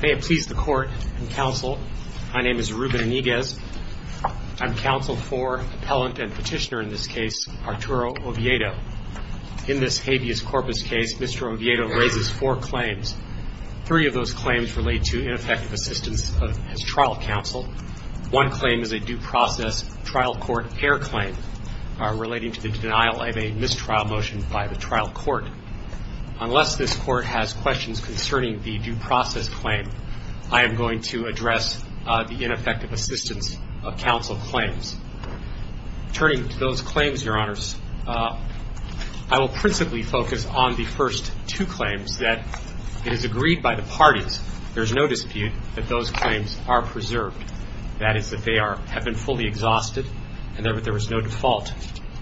May it please the Court and Counsel, my name is Ruben Iniguez. I'm Counsel for Appellant and Petitioner in this case, Arturo Oviedo. In this habeas corpus case, Mr. Oviedo raises four claims. Three of those claims relate to ineffective assistance of his trial counsel. One claim is a due process trial court error claim relating to the denial of a mistrial motion by the trial court. Unless this court has questions concerning the due process claim, I am going to address the ineffective assistance of counsel claims. Turning to those claims, Your Honors, I will principally focus on the first two claims that it is agreed by the parties, there's no dispute, that those claims are preserved. That is, that they have been fully exhausted and that there was no default.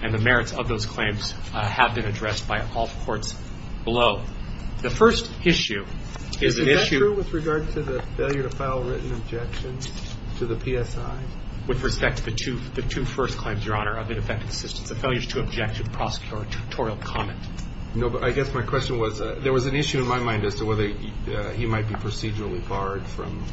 And the merits of those claims have been addressed by all courts below. The first issue is an issue with regard to the failure to file written objections to the PSI. With respect to the two first claims, Your Honor, of ineffective assistance, the failure to object to the prosecutorial comment. No, but I guess my question was, there was an issue in my mind as to whether he might be procedurally barred from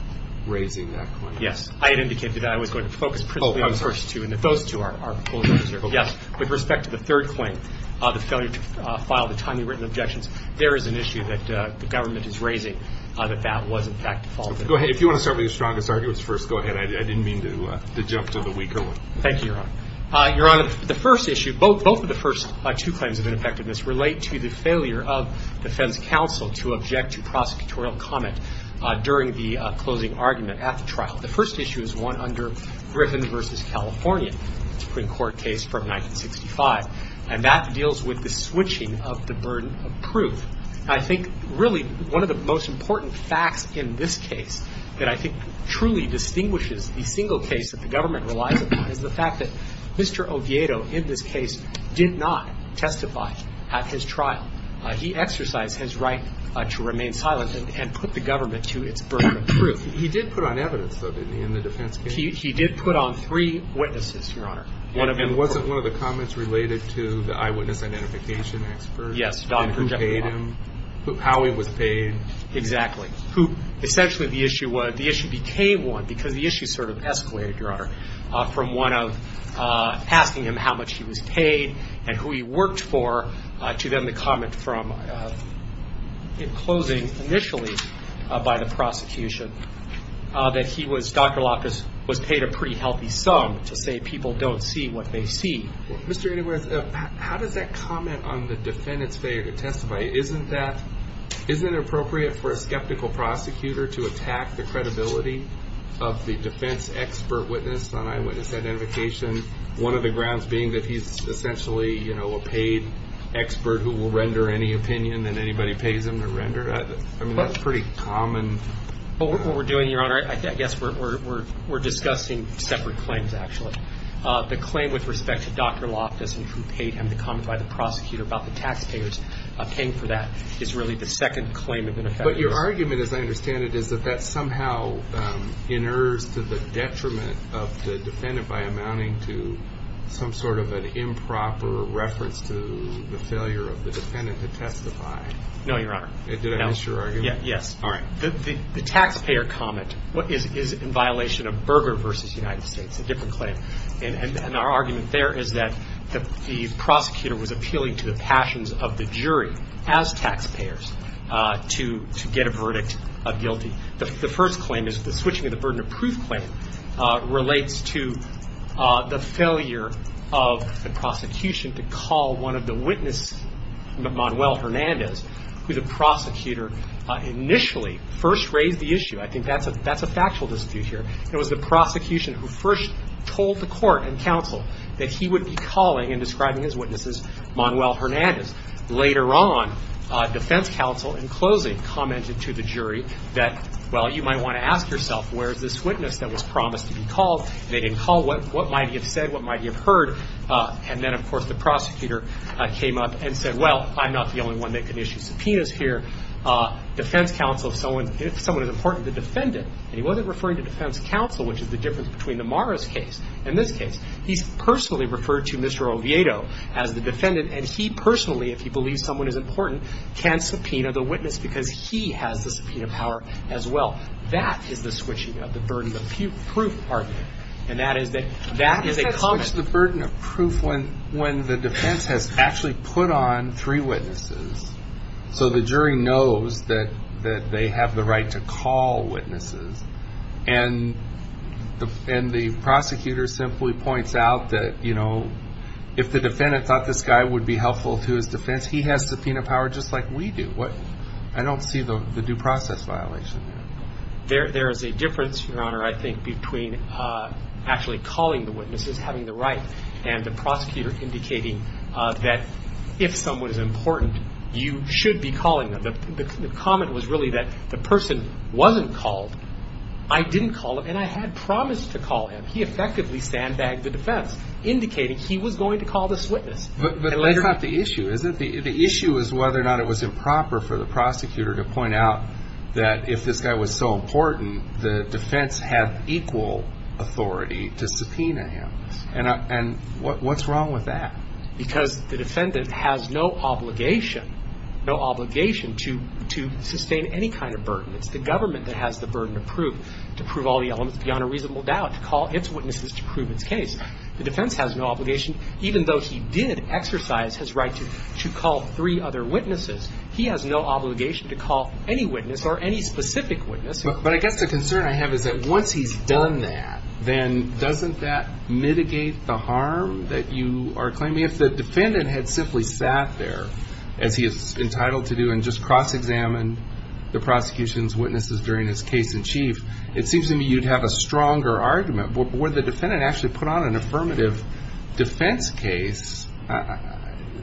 raising that claim. Yes, I had indicated that I was going to focus principally on the first two and that those two are fully preserved. Yes, with respect to the third claim, the failure to file the timely written objections, there is an issue that the government is raising that that was, in fact, defaulted. Go ahead. If you want to start with your strongest arguments first, go ahead. I didn't mean to jump to the weaker one. Thank you, Your Honor. Your Honor, the first issue, both of the first two claims of ineffectiveness relate to the during the closing argument at the trial. The first issue is one under Griffin v. California, a Supreme Court case from 1965, and that deals with the switching of the burden of proof. I think, really, one of the most important facts in this case that I think truly distinguishes the single case that the government relies upon is the fact that Mr. Oviedo in this case did not testify at his trial. He exercised his right to remain silent and put the government to its burden of proof. He did put on evidence, though, didn't he, in the defense case? He did put on three witnesses, Your Honor. And wasn't one of the comments related to the eyewitness identification expert? Yes. And who paid him? How he was paid? Exactly. Who essentially the issue was, the issue became one, because the issue sort of escalated, Your Honor, from one of asking him how much he was paid and who he worked for to then the comment from in closing initially by the prosecution that he was, Dr. Lopez, was paid a pretty healthy sum to say people don't see what they see. Mr. Inouye, how does that comment on the defendant's failure to testify, isn't that, isn't it appropriate for a skeptical prosecutor to attack the credibility of the defense expert witness on eyewitness identification, one of the grounds being that he's essentially, you know, a paid expert who will render any opinion that anybody pays him to render? I mean, that's pretty common. What we're doing, Your Honor, I guess we're discussing separate claims, actually. The claim with respect to Dr. Lopez and who paid him, the comment by the prosecutor about the taxpayers paying for that, is really the second claim of ineffectiveness. But your argument, as I understand it, is that that somehow inerts to the detriment of the defendant by amounting to some sort of an improper reference to the failure of the defendant to testify. No, Your Honor. Did I miss your argument? Yes. All right. The taxpayer comment is in violation of Berger v. United States, a different claim. And our argument there is that the prosecutor was appealing to the passions of the jury as taxpayers to get a verdict of guilty. The first claim is the switching of the burden of proof claim relates to the failure of the prosecution to call one of the witnesses, Manuel Hernandez, who the prosecutor initially first raised the issue. I think that's a factual dispute here. It was the prosecution who first told the court and counsel that he would be calling and describing his witnesses Manuel Hernandez. Later on, defense counsel in closing commented to the jury that, well, you might want to ask yourself, where is this witness that was promised to be called? And they didn't call. What might he have said? What might he have heard? And then, of course, the prosecutor came up and said, well, I'm not the only one that can issue subpoenas here. Defense counsel, if someone is important to the defendant, and he wasn't referring to defense counsel, which is the difference between the Morris case and this case. He's personally referred to Mr. Oviedo as the defendant. And he personally, if he believes someone is important, can subpoena the witness because he has the subpoena power as well. That is the switching of the burden of proof argument. And that is that that is a common case. The burden of proof when the defense has actually put on three witnesses so the jury knows that they have the right to call witnesses. And the prosecutor simply points out that, you know, if the defendant thought this guy would be helpful to his defense, he has subpoena power just like we do. I don't see the due process violation there. There is a difference, Your Honor, I think, between actually calling the witnesses, having the right, and the prosecutor indicating that if someone is important, you should be calling them. The comment was really that the person wasn't called. I didn't call him, and I had promised to call him. He effectively sandbagged the defense, indicating he was going to call this witness. But that's not the issue, is it? The issue is whether or not it was improper for the prosecutor to point out that if this guy was so important, the defense had equal authority to subpoena him. And what's wrong with that? Because the defendant has no obligation, no obligation to sustain any kind of burden. It's the government that has the burden to prove, to prove all the elements beyond a reasonable doubt, to call its witnesses to prove its case. The defense has no obligation, even though he did exercise his right to call three other witnesses, he has no obligation to call any witness or any specific witness. But I guess the concern I have is that once he's done that, then doesn't that mitigate the harm that you are claiming? If the defendant had simply sat there, as he is entitled to do, and just cross-examined the prosecution's witnesses during his case in chief, it seems to me you'd have a stronger argument. But where the defendant actually put on an affirmative defense case,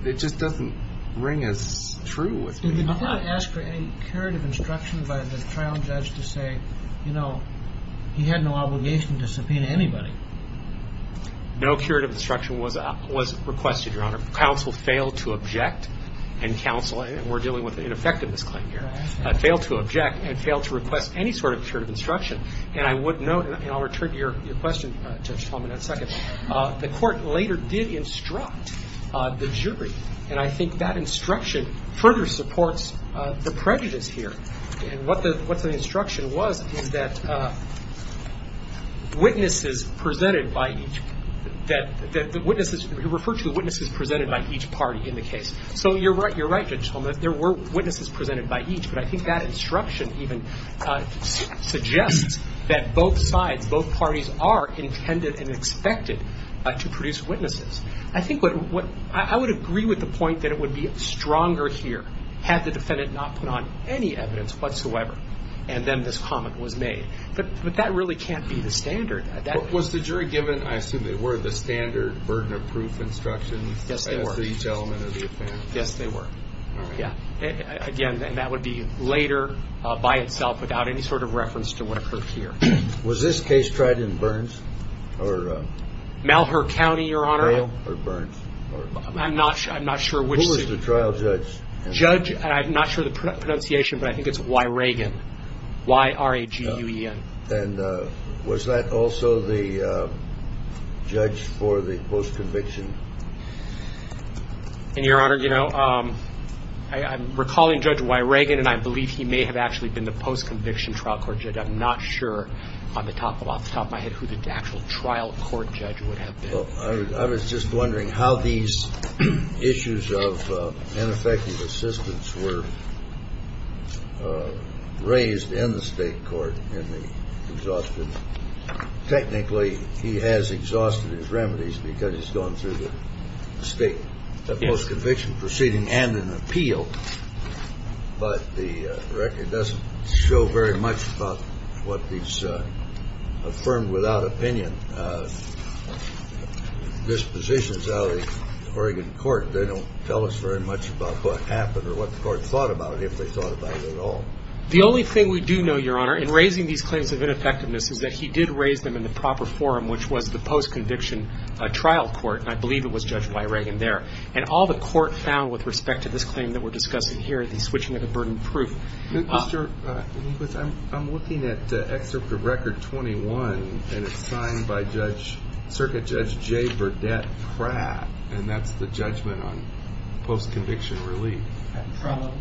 it just doesn't ring as true with me. Did the defendant ask for any curative instruction by the trial judge to say, you know, he had no obligation to subpoena anybody? No curative instruction was requested, Your Honor. Counsel failed to object, and counsel we're dealing with an ineffectiveness claim here, failed to object and failed to request any sort of curative instruction. And I would note, and I'll return to your question, Judge Tolman, in a second, the court later did instruct the jury. And I think that instruction further supports the prejudice here. And what the instruction was is that witnesses presented by each, that the witnesses, you refer to the witnesses presented by each party in the case. So you're right, you're right, Judge Tolman, that there were witnesses presented by each, but I think that instruction even suggests that both sides, both parties are intended and expected to produce witnesses. I think what, I would agree with the point that it would be stronger here had the defendant not put on any evidence whatsoever, and then this comment was made. But that really can't be the standard. Was the jury given, I assume they were, the standard burden of proof instruction for each element of the offense? Yes, they were. Yeah. Again, that would be later by itself without any sort of reference to what occurred here. Was this case tried in Burns, or? Malheur County, Your Honor. Or Burns? I'm not sure, I'm not sure which suit. Who was the trial judge? Judge, I'm not sure the pronunciation, but I think it's Y. Reagan. Y-R-A-G-U-E-N. And was that also the judge for the post-conviction? And, Your Honor, you know, I'm recalling Judge Y. Reagan, and I believe he may have actually been the post-conviction trial court judge. I'm not sure off the top of my head who the actual trial court judge would have been. I was just wondering how these issues of ineffective assistance were raised in the State Court in the exhaustion. Technically, he has exhausted his remedies because he's gone through the state post-conviction proceeding and an appeal, but the record doesn't show very much about what these affirmed without opinion dispositions out of the Oregon court. They don't tell us very much about what happened or what the court thought about it, if they thought about it at all. The only thing we do know, Your Honor, in raising these claims of ineffectiveness is that he did raise them in the proper forum, which was the post-conviction trial court, and I believe it was Judge Y. Reagan there. And all the court found with respect to this claim that we're discussing here, the switching of the burden proof. I'm looking at Excerpt of Record 21, and it's signed by Circuit Judge J. Burdette Pratt, and that's the judgment on post-conviction relief. At trial level?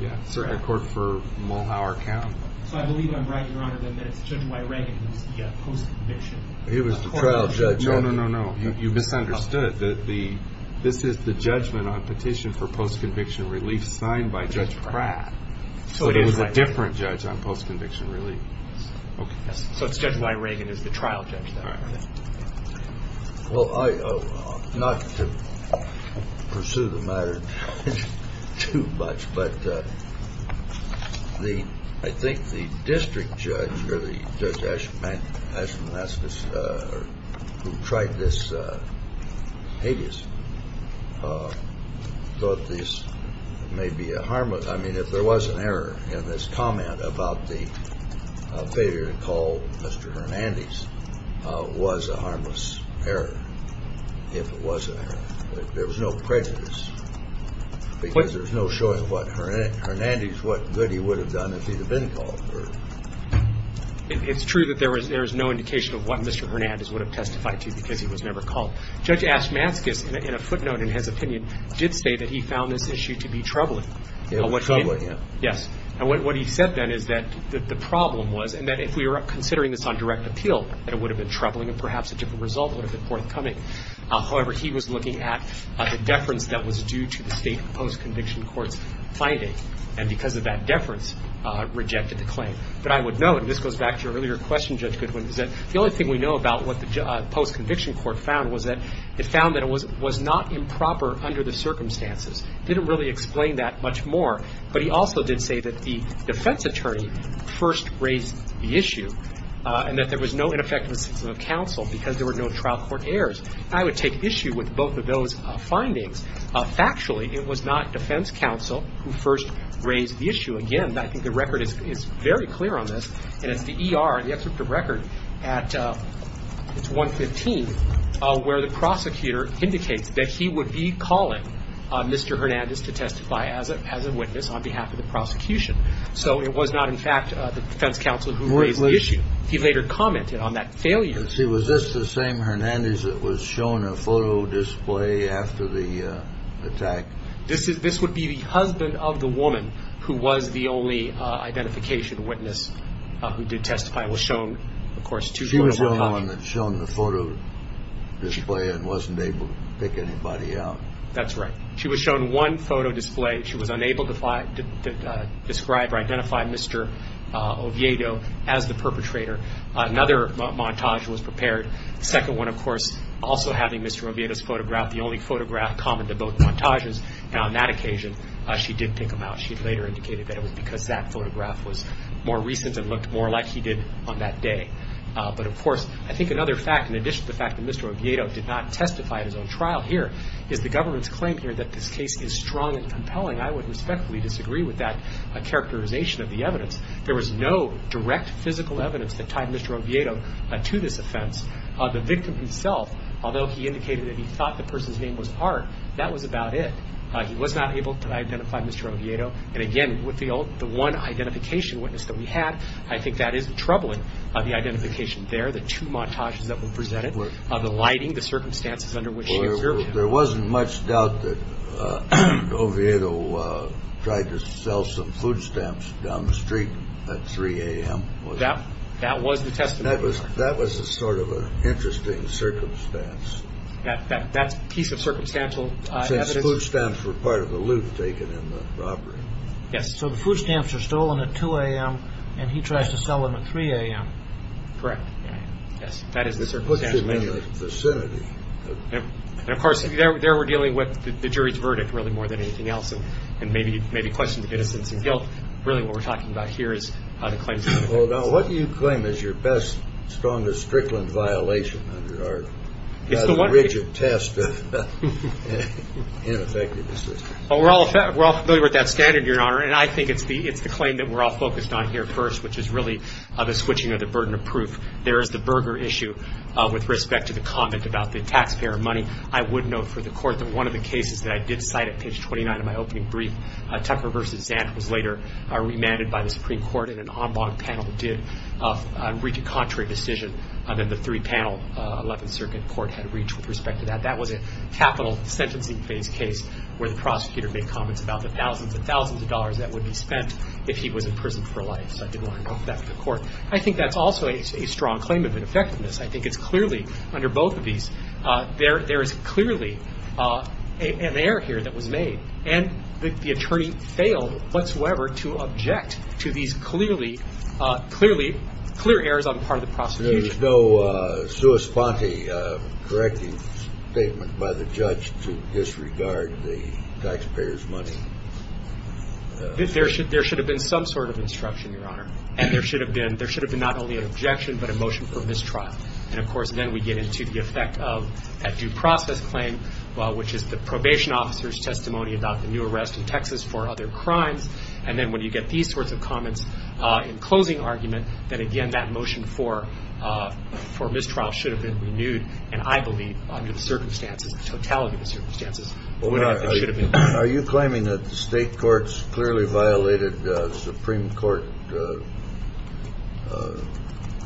Yeah, Circuit Court for Mulholland County. So I believe I'm right, Your Honor, that it's Judge Y. Reagan who's the post-conviction court judge. He was the trial judge. No, no, no, no. You misunderstood. This is the judgment on petition for post-conviction relief signed by Judge Pratt. Judge Pratt. So it was a different judge on post-conviction relief. Okay. So it's Judge Y. Reagan who's the trial judge, then. Well, I – not to pursue the matter too much, but the – I think the district judge or the Judge Ashman – Ashman, that's the – who tried this habeas, thought this may be a harmless – I mean, if there was an error in this comment about the failure to call Mr. Hernandez, was a harmless error, if it was an error. There was no prejudice, because there's no showing what Hernandez – what good he would have done if he'd have been called. It's true that there is no indication of what Mr. Hernandez would have testified to because he was never called. Judge Ashmanskas, in a footnote in his opinion, did say that he found this issue to be troubling. It was troubling, yeah. Yes. And what he said then is that the problem was – and that if we were considering this on direct appeal, that it would have been troubling and perhaps a different result would have been forthcoming. However, he was looking at the deference that was due to the state post-conviction court's finding, and because of that deference, rejected the claim. But I would note – and this goes back to your earlier question, Judge Goodwin, is that the only thing we know about what the post-conviction court found was that it found that it was not improper under the circumstances. It didn't really explain that much more, but he also did say that the defense attorney first raised the issue and that there was no ineffectiveness of counsel because there were no trial court errors. I would take issue with both of those findings. Factually, it was not defense counsel who first raised the issue. Again, I think the record is very clear on this, and it's the ER, the excerpt of record at – it's 115, where the prosecutor indicates that he would be calling Mr. Hernandez to testify as a witness on behalf of the prosecution. So it was not, in fact, the defense counsel who raised the issue. He later commented on that failure. Was this the same Hernandez that was shown a photo display after the attack? This would be the husband of the woman who was the only identification witness who did testify and was shown, of course, two – She was the only one that was shown the photo display and wasn't able to pick anybody out. That's right. She was shown one photo display. She was unable to describe or identify Mr. Oviedo as the perpetrator. Another montage was prepared. The second one, of course, also having Mr. Oviedo's photograph, the only photograph common to both montages, and on that occasion she did pick him out. She later indicated that it was because that photograph was more recent and looked more like he did on that day. But, of course, I think another fact, in addition to the fact that Mr. Oviedo did not testify at his own trial here, is the government's claim here that this case is strong and compelling. I would respectfully disagree with that characterization of the evidence. There was no direct physical evidence that tied Mr. Oviedo to this offense. The victim himself, although he indicated that he thought the person's name was Hart, that was about it. He was not able to identify Mr. Oviedo. And, again, with the one identification witness that we had, I think that is troubling, the identification there, the two montages that were presented, the lighting, the circumstances under which she was served. There wasn't much doubt that Oviedo tried to sell some food stamps down the street at 3 a.m. That was the testimony. That was sort of an interesting circumstance. That piece of circumstantial evidence? Since food stamps were part of the loot taken in the robbery. Yes. So the food stamps were stolen at 2 a.m., and he tries to sell them at 3 a.m. Correct. Yes. That is the circumstantial evidence. It puts it in the vicinity. And, of course, there we're dealing with the jury's verdict, really, more than anything else, and maybe questions of innocence and guilt. Really, what we're talking about here is how the claims were made. Well, now, what do you claim is your best, strongest strickland violation under our rigid test We're all familiar with that standard, Your Honor, and I think it's the claim that we're all focused on here first, which is really the switching of the burden of proof. There is the Berger issue with respect to the comment about the taxpayer money. I would note for the Court that one of the cases that I did cite at page 29 of my opening brief, Tucker v. Zant was later remanded by the Supreme Court, and an en banc panel did reach a contrary decision than the three-panel 11th Circuit Court had reached with respect to that. That was a capital sentencing phase case where the prosecutor made comments about the thousands and thousands of dollars that would be spent if he was imprisoned for life, so I did want to note that for the Court. I think that's also a strong claim of ineffectiveness. I think it's clearly, under both of these, there is clearly an error here that was made, and the attorney failed whatsoever to object to these clear errors on the part of the prosecution. There is no sua sponte correcting statement by the judge to disregard the taxpayer's money. There should have been some sort of instruction, Your Honor, and there should have been not only an objection but a motion for mistrial, and of course then we get into the effect of that due process claim, which is the probation officer's testimony about the new arrest in Texas for other crimes, and then when you get these sorts of comments in closing argument, then again that motion for mistrial should have been renewed, and I believe under the circumstances, the totality of the circumstances, it should have been renewed. Are you claiming that the state courts clearly violated Supreme Court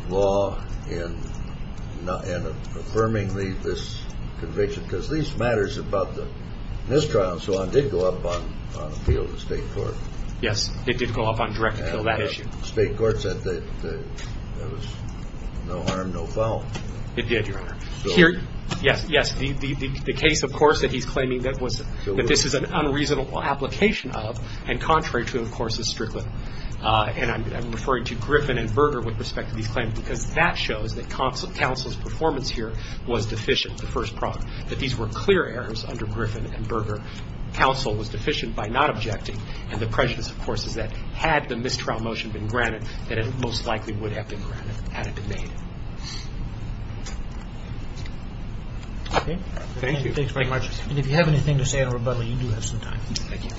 law in affirming this conviction? Because these matters about the mistrial and so on did go up on appeal to the state court. Yes. It did go up on direct appeal to that issue. State courts said that there was no harm, no foul. It did, Your Honor. Yes. Yes. The case, of course, that he's claiming that this is an unreasonable application of, and contrary to, of course, is Strickland, and I'm referring to Griffin and Berger with respect to these claims because that shows that counsel's performance here was deficient, the first prompt. That these were clear errors under Griffin and Berger. Counsel was deficient by not objecting, and the prejudice, of course, is that had the mistrial motion been granted, that it most likely would have been granted had it been made. Okay. Thank you. Thanks very much. And if you have anything to say in rebuttal, you do have some time. Thank you.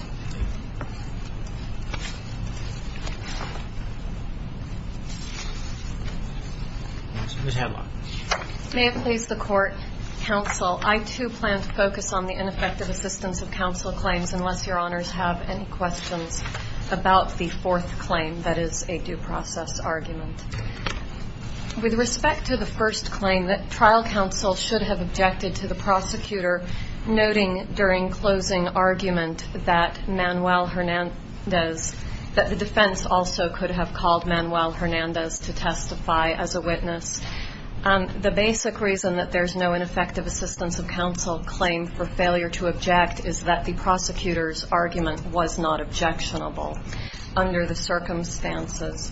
Ms. Hanlon. May it please the Court, Counsel, I, too, plan to focus on the ineffective assistance of counsel claims, unless Your Honors have any questions about the fourth claim that is a due process argument. With respect to the first claim, trial counsel should have objected to the prosecutor noting during closing argument that Manuel Hernandez, that the defense also could have called Manuel Hernandez to testify as a witness. The basic reason that there's no ineffective assistance of counsel claim for failure to object is that the prosecutor's argument was not objectionable under the circumstances.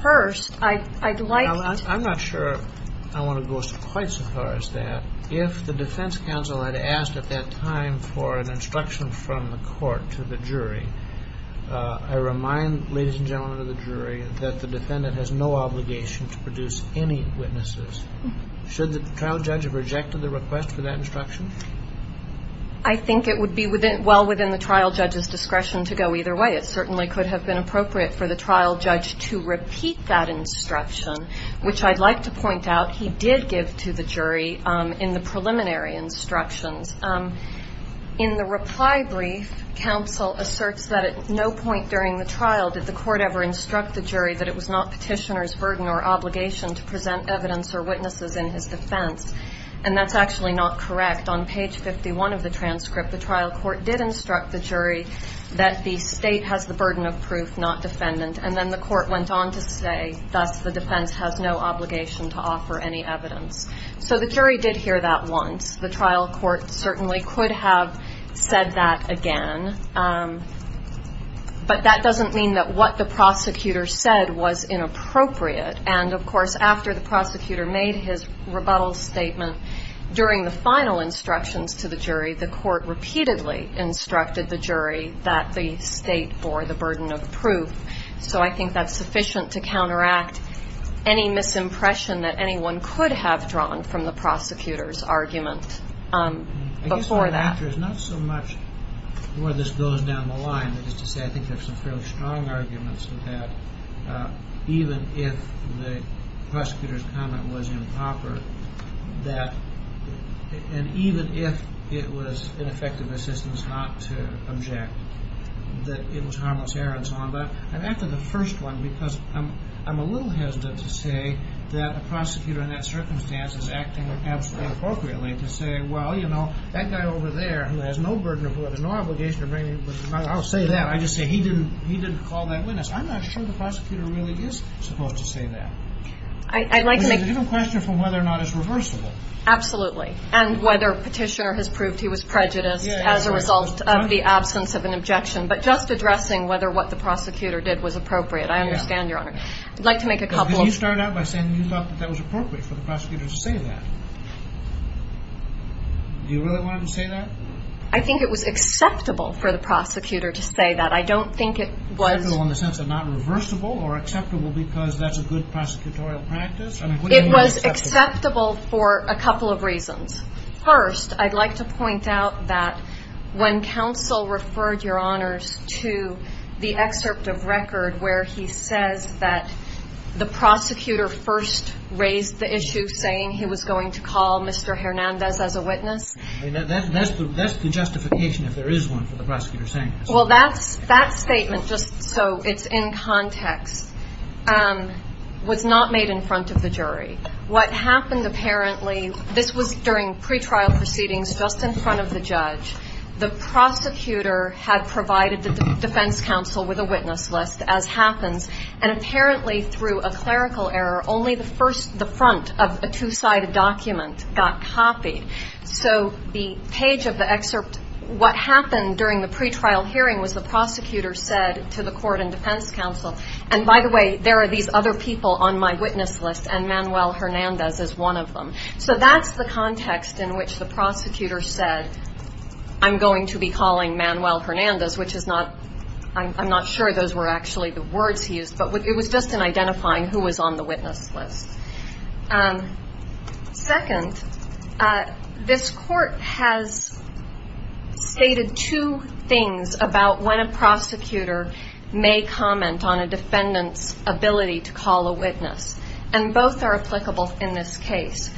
First, I'd like to ---- I'm not sure I want to go quite so far as that. If the defense counsel had asked at that time for an instruction from the court to the jury, I remind, ladies and gentlemen of the jury, that the defendant has no obligation to produce any witnesses. Should the trial judge have rejected the request for that instruction? I think it would be well within the trial judge's discretion to go either way. It certainly could have been appropriate for the trial judge to repeat that instruction, which I'd like to point out he did give to the jury in the preliminary instructions. In the reply brief, counsel asserts that at no point during the trial did the court ever instruct the jury that it was not petitioner's burden or obligation to present evidence or witnesses in his defense. And that's actually not correct. On page 51 of the transcript, the trial court did instruct the jury that the State has the burden of proof, not defendant. And then the court went on to say, thus, the defense has no obligation to offer any evidence. So the jury did hear that once. The trial court certainly could have said that again. But that doesn't mean that what the prosecutor said was inappropriate. And, of course, after the prosecutor made his rebuttal statement, during the final instructions to the jury, the court repeatedly instructed the jury that the State bore the burden of proof. So I think that's sufficient to counteract any misimpression that anyone could have drawn from the prosecutor's argument before that. I guess my answer is not so much where this goes down the line, but just to say I think there are some fairly strong arguments to that, even if the prosecutor's comment was improper, and even if it was ineffective assistance not to object, that it was harmless error and so on. But I'm after the first one because I'm a little hesitant to say that a prosecutor in that circumstance is acting absolutely inappropriately, to say, well, you know, that guy over there who has no burden of evidence, no obligation to bring any evidence, I'll say that. I'll just say he didn't call that witness. I'm not sure the prosecutor really is supposed to say that. But it's a different question from whether or not it's reversible. Absolutely. And whether Petitioner has proved he was prejudiced as a result of the absence of an objection. But just addressing whether what the prosecutor did was appropriate. I understand, Your Honor. I'd like to make a couple of ñ Because you started out by saying you thought that that was appropriate for the prosecutor to say that. Do you really want him to say that? I think it was acceptable for the prosecutor to say that. I don't think it was ñ Acceptable in the sense of not reversible or acceptable because that's a good prosecutorial practice? It was acceptable for a couple of reasons. First, I'd like to point out that when counsel referred, Your Honors, to the excerpt of record where he says that the prosecutor first raised the issue saying he was going to call Mr. Hernandez as a witness. That's the justification if there is one for the prosecutor saying that. Well, that statement, just so it's in context, was not made in front of the jury. What happened apparently ñ this was during pretrial proceedings just in front of the judge. The prosecutor had provided the defense counsel with a witness list, as happens. And apparently through a clerical error, only the front of a two-sided document got copied. So the page of the excerpt, what happened during the pretrial hearing was the prosecutor said to the court and defense counsel, and by the way, there are these other people on my witness list, and Manuel Hernandez is one of them. So that's the context in which the prosecutor said, I'm going to be calling Manuel Hernandez, which is not ñ I'm not sure those were actually the words he used, but it was just in identifying who was on the witness list. Second, this court has stated two things about when a prosecutor may comment on a defendant's ability to call a witness, and both are applicable in this case.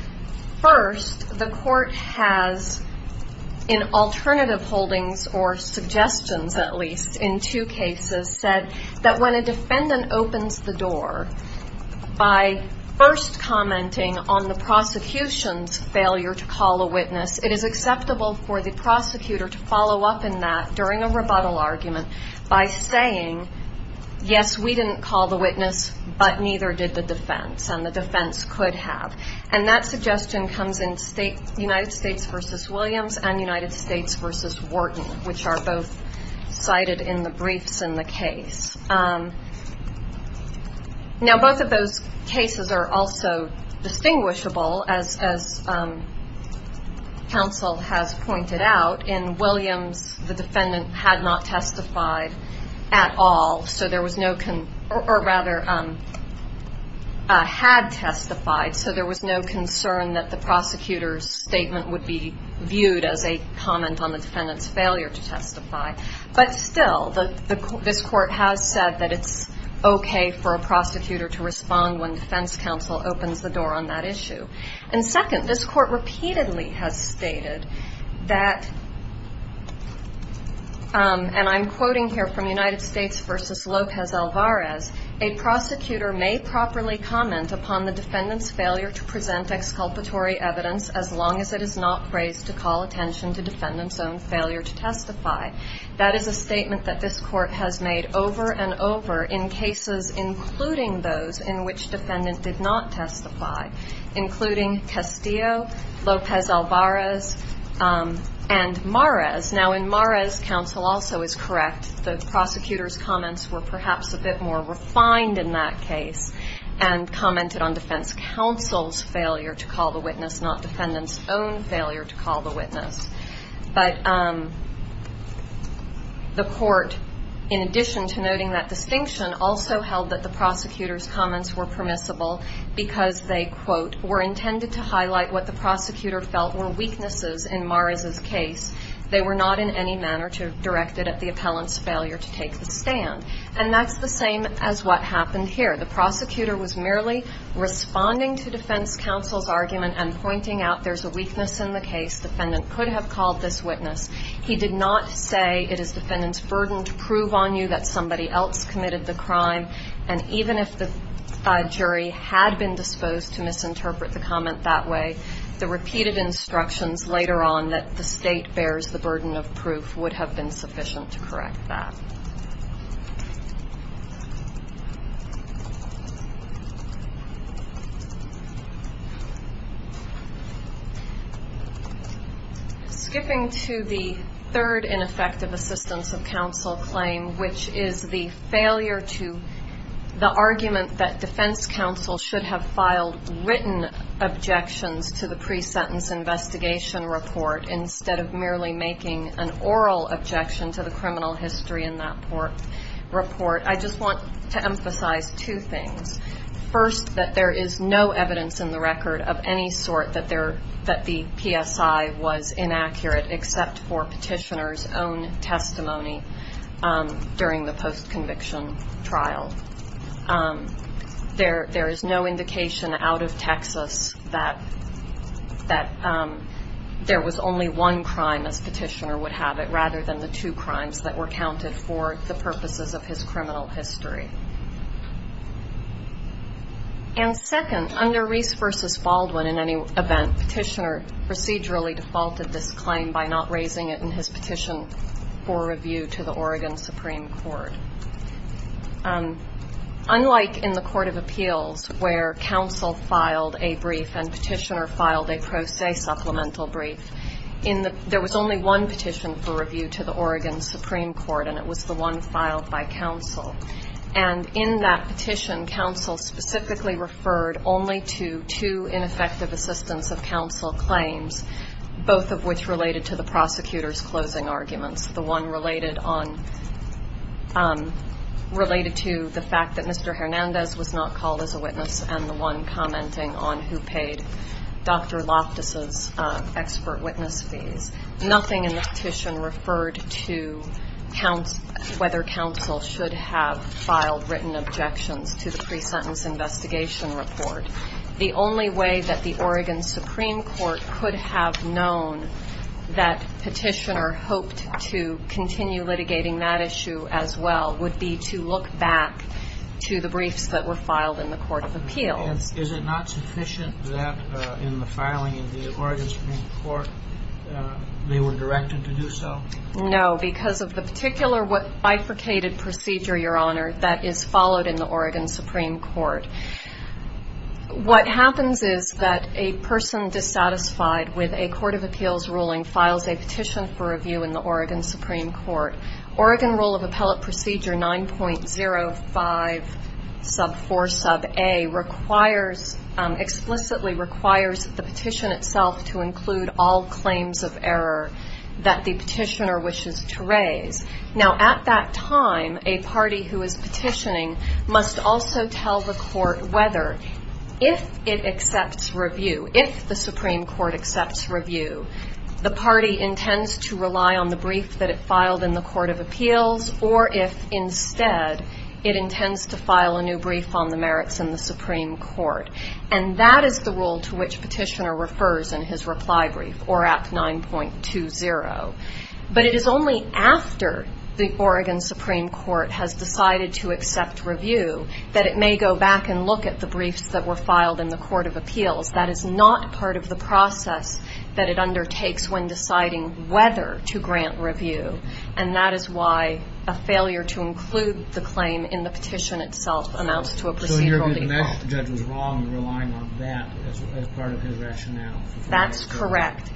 First, the court has, in alternative holdings or suggestions at least in two cases, said that when a defendant opens the door by first commenting on the prosecution's failure to call a witness, it is acceptable for the prosecutor to follow up in that during a rebuttal argument by saying, yes, we didn't call the witness, but neither did the defense, and the defense could have. And that suggestion comes in United States v. Williams and United States v. Wharton, which are both cited in the briefs in the case. Now, both of those cases are also distinguishable, as counsel has pointed out. In Williams, the defendant had not testified at all, or rather, had testified, so there was no concern that the prosecutor's statement would be viewed as a comment on the defendant's failure to testify. But still, this court has said that it's okay for a prosecutor to respond when defense counsel opens the door on that issue. And second, this court repeatedly has stated that, and I'm quoting here from United States v. Lopez-Alvarez, a prosecutor may properly comment upon the defendant's failure to present exculpatory evidence as long as it is not phrased to call attention to defendant's own failure to testify. That is a statement that this court has made over and over in cases including those in which defendant did not testify, including Castillo, Lopez-Alvarez, and Mares. Now, in Mares, counsel also is correct. The prosecutor's comments were perhaps a bit more refined in that case and commented on defense counsel's failure to call the witness, not defendant's own failure to call the witness. But the court, in addition to noting that distinction, also held that the prosecutor's comments were permissible because they, quote, were intended to highlight what the prosecutor felt were weaknesses in Mares' case. They were not in any manner directed at the appellant's failure to take the stand. And that's the same as what happened here. The prosecutor was merely responding to defense counsel's argument and pointing out there's a weakness in the case. Defendant could have called this witness. He did not say it is defendant's burden to prove on you that somebody else committed the crime. And even if the jury had been disposed to misinterpret the comment that way, the repeated instructions later on that the state bears the burden of proof would have been sufficient to correct that. Skipping to the third ineffective assistance of counsel claim, which is the failure to the argument that defense counsel should have filed written objections to the pre-sentence investigation report instead of merely making an oral objection to the criminal history in that report. I just want to emphasize two things. First, that there is no evidence in the record of any sort that the PSI was inaccurate, except for petitioner's own testimony during the post-conviction trial. There is no indication out of Texas that there was only one crime, as petitioner would have it, rather than the two crimes that were counted for the purposes of his criminal history. And second, under Reese v. Baldwin, in any event, petitioner procedurally defaulted this claim by not raising it in his petition for review to the Oregon Supreme Court. Unlike in the Court of Appeals, where counsel filed a brief and petitioner filed a pro se supplemental brief, there was only one petition for review to the Oregon Supreme Court, and it was the one filed by counsel. And in that petition, counsel specifically referred only to two ineffective assistance of counsel claims, both of which related to the prosecutor's closing arguments, the one related to the fact that Mr. Hernandez was not called as a witness and the one commenting on who paid Dr. Loftus' expert witness fees. Nothing in the petition referred to whether counsel should have filed written objections to the pre-sentence investigation report. The only way that the Oregon Supreme Court could have known that petitioner hoped to continue litigating that issue as well would be to look back to the briefs that were filed in the Court of Appeals. Is it not sufficient that in the filing of the Oregon Supreme Court they were directed to do so? No, because of the particular bifurcated procedure, Your Honor, that is followed in the Oregon Supreme Court. What happens is that a person dissatisfied with a Court of Appeals ruling files a petition for review in the Oregon Supreme Court. Oregon Rule of Appellate Procedure 9.05 sub 4 sub a requires, explicitly requires the petition itself to include all claims of error that the petitioner wishes to raise. Now, at that time, a party who is petitioning must also tell the court whether, if it accepts review, if the Supreme Court accepts review, the party intends to rely on the brief that it filed in the Court of Appeals, or if, instead, it intends to file a new brief on the merits in the Supreme Court. And that is the rule to which petitioner refers in his reply brief, or Act 9.20. But it is only after the Oregon Supreme Court has decided to accept review that it may go back and look at the briefs that were filed in the Court of Appeals. That is not part of the process that it undertakes when deciding whether to grant review. And that is why a failure to include the claim in the petition itself amounts to a procedural default. So in your view, the next judge was wrong in relying on that as part of his rationale. That's correct.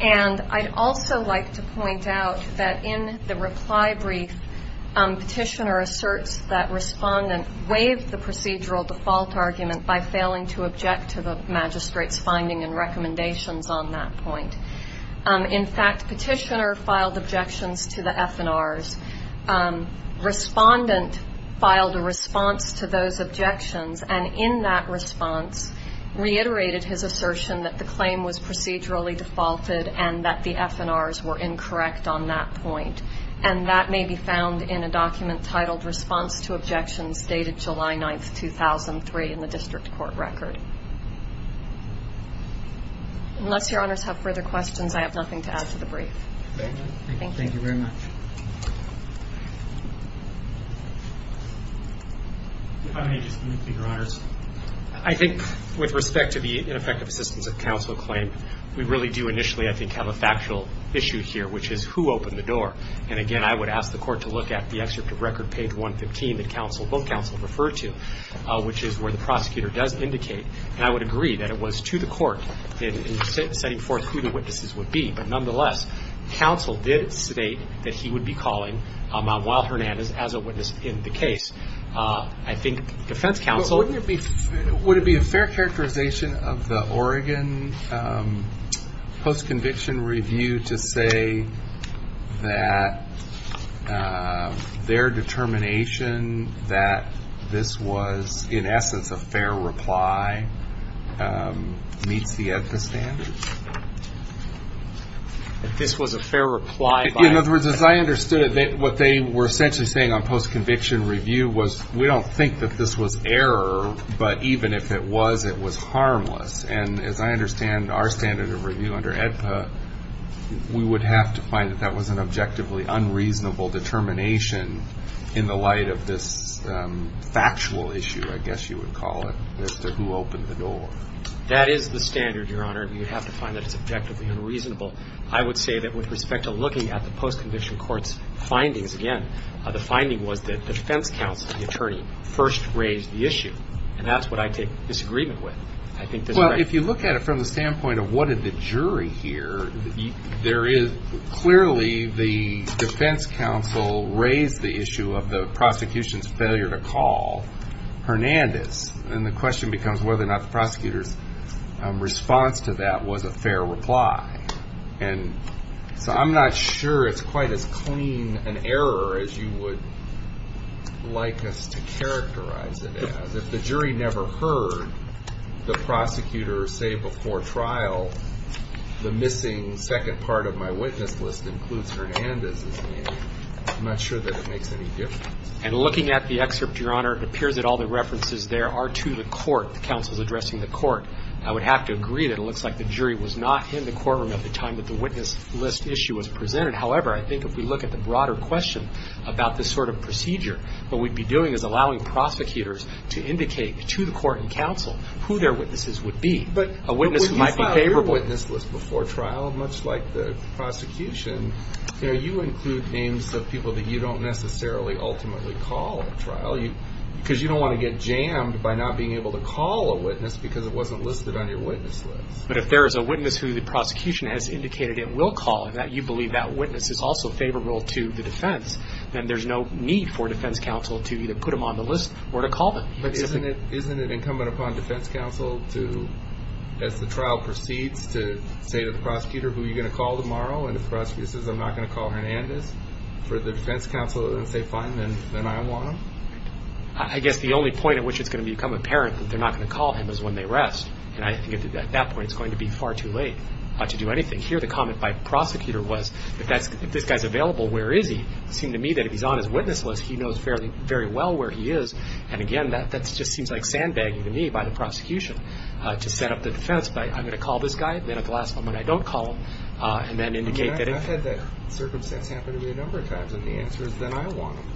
And I'd also like to point out that in the reply brief, petitioner asserts that respondent waived the procedural default argument by failing to object to the magistrate's finding and recommendations on that point. In fact, petitioner filed objections to the F&Rs. Respondent filed a response to those objections, and in that response reiterated his assertion that the claim was procedurally defaulted and that the F&Rs were incorrect on that point. And that may be found in a document titled Response to Objections Dated July 9, 2003 in the District Court Record. Unless your honors have further questions, I have nothing to add to the brief. Thank you very much. How many just moved, your honors? I think with respect to the ineffective assistance of counsel claim, we really do initially, I think, have a factual issue here, which is who opened the door. And again, I would ask the court to look at the excerpt of Record Page 115 that both counsel referred to, which is where the prosecutor does indicate. And I would agree that it was to the court in setting forth who the witnesses would be. But nonetheless, counsel did state that he would be calling Manuel Hernandez as a witness in the case. I think defense counsel... Would it be a fair characterization of the Oregon Post-Conviction Review to say that their determination that this was, in essence, a fair reply meets the EFTA standards? That this was a fair reply by... In other words, as I understood it, what they were essentially saying on Post-Conviction Review was, we don't think that this was error, but even if it was, it was harmless. And as I understand our standard of review under EFTA, we would have to find that that was an objectively unreasonable determination in the light of this factual issue, I guess you would call it, as to who opened the door. That is the standard, your honor. You have to find that it's objectively unreasonable. I would say that with respect to looking at the post-conviction court's findings, again, the finding was that defense counsel, the attorney, first raised the issue. And that's what I take disagreement with. I think that... Well, if you look at it from the standpoint of what did the jury hear, there is clearly the defense counsel raised the issue of the prosecution's failure to call Hernandez. And the question becomes whether or not the prosecutor's response to that was a fair reply. And so I'm not sure it's quite as clean an error as you would like us to characterize it as. If the jury never heard the prosecutor say before trial, the missing second part of my witness list includes Hernandez's name, I'm not sure that it makes any difference. And looking at the excerpt, your honor, it appears that all the references there are to the court, the counsel's addressing the court. I would have to agree that it looks like the jury was not in the courtroom at the time that the witness list issue was presented. However, I think if we look at the broader question about this sort of procedure, what we'd be doing is allowing prosecutors to indicate to the court and counsel who their witnesses would be, a witness who might be favorable. But when you file your witness list before trial, much like the prosecution, you include names of people that you don't necessarily ultimately call at trial. Because you don't want to get jammed by not being able to call a witness because it wasn't listed on your witness list. But if there is a witness who the prosecution has indicated it will call, and you believe that witness is also favorable to the defense, then there's no need for defense counsel to either put them on the list or to call them. But isn't it incumbent upon defense counsel to, as the trial proceeds, to say to the prosecutor who you're going to call tomorrow, and if the prosecutor says, I'm not going to call Hernandez, for the defense counsel to say, fine, then I want him? I guess the only point at which it's going to become apparent that they're not going to call him is when they rest. And I think at that point it's going to be far too late to do anything. Here the comment by the prosecutor was, if this guy's available, where is he? It seemed to me that if he's on his witness list, he knows very well where he is. And again, that just seems like sandbagging to me by the prosecution to set up the defense. I'm going to call this guy, then at the last moment I don't call him, and then indicate that if. I mean, I've had that circumstance happen to me a number of times, and the answer is, then I want him.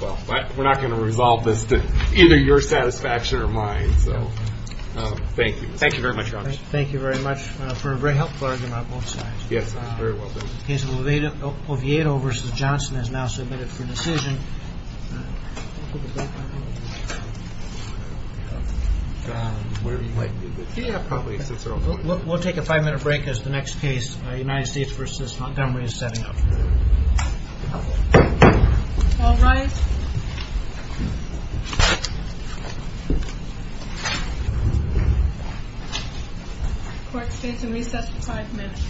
Well, we're not going to resolve this to either your satisfaction or mine, so thank you. Thank you very much, Your Honor. Thank you very much for a very helpful argument on both sides. Yes, I'm very well done. The case of Oviedo v. Johnson is now submitted for decision. We'll take a five-minute break as the next case, United States v. Montgomery, is setting up. All rise. Court stays in recess for five minutes.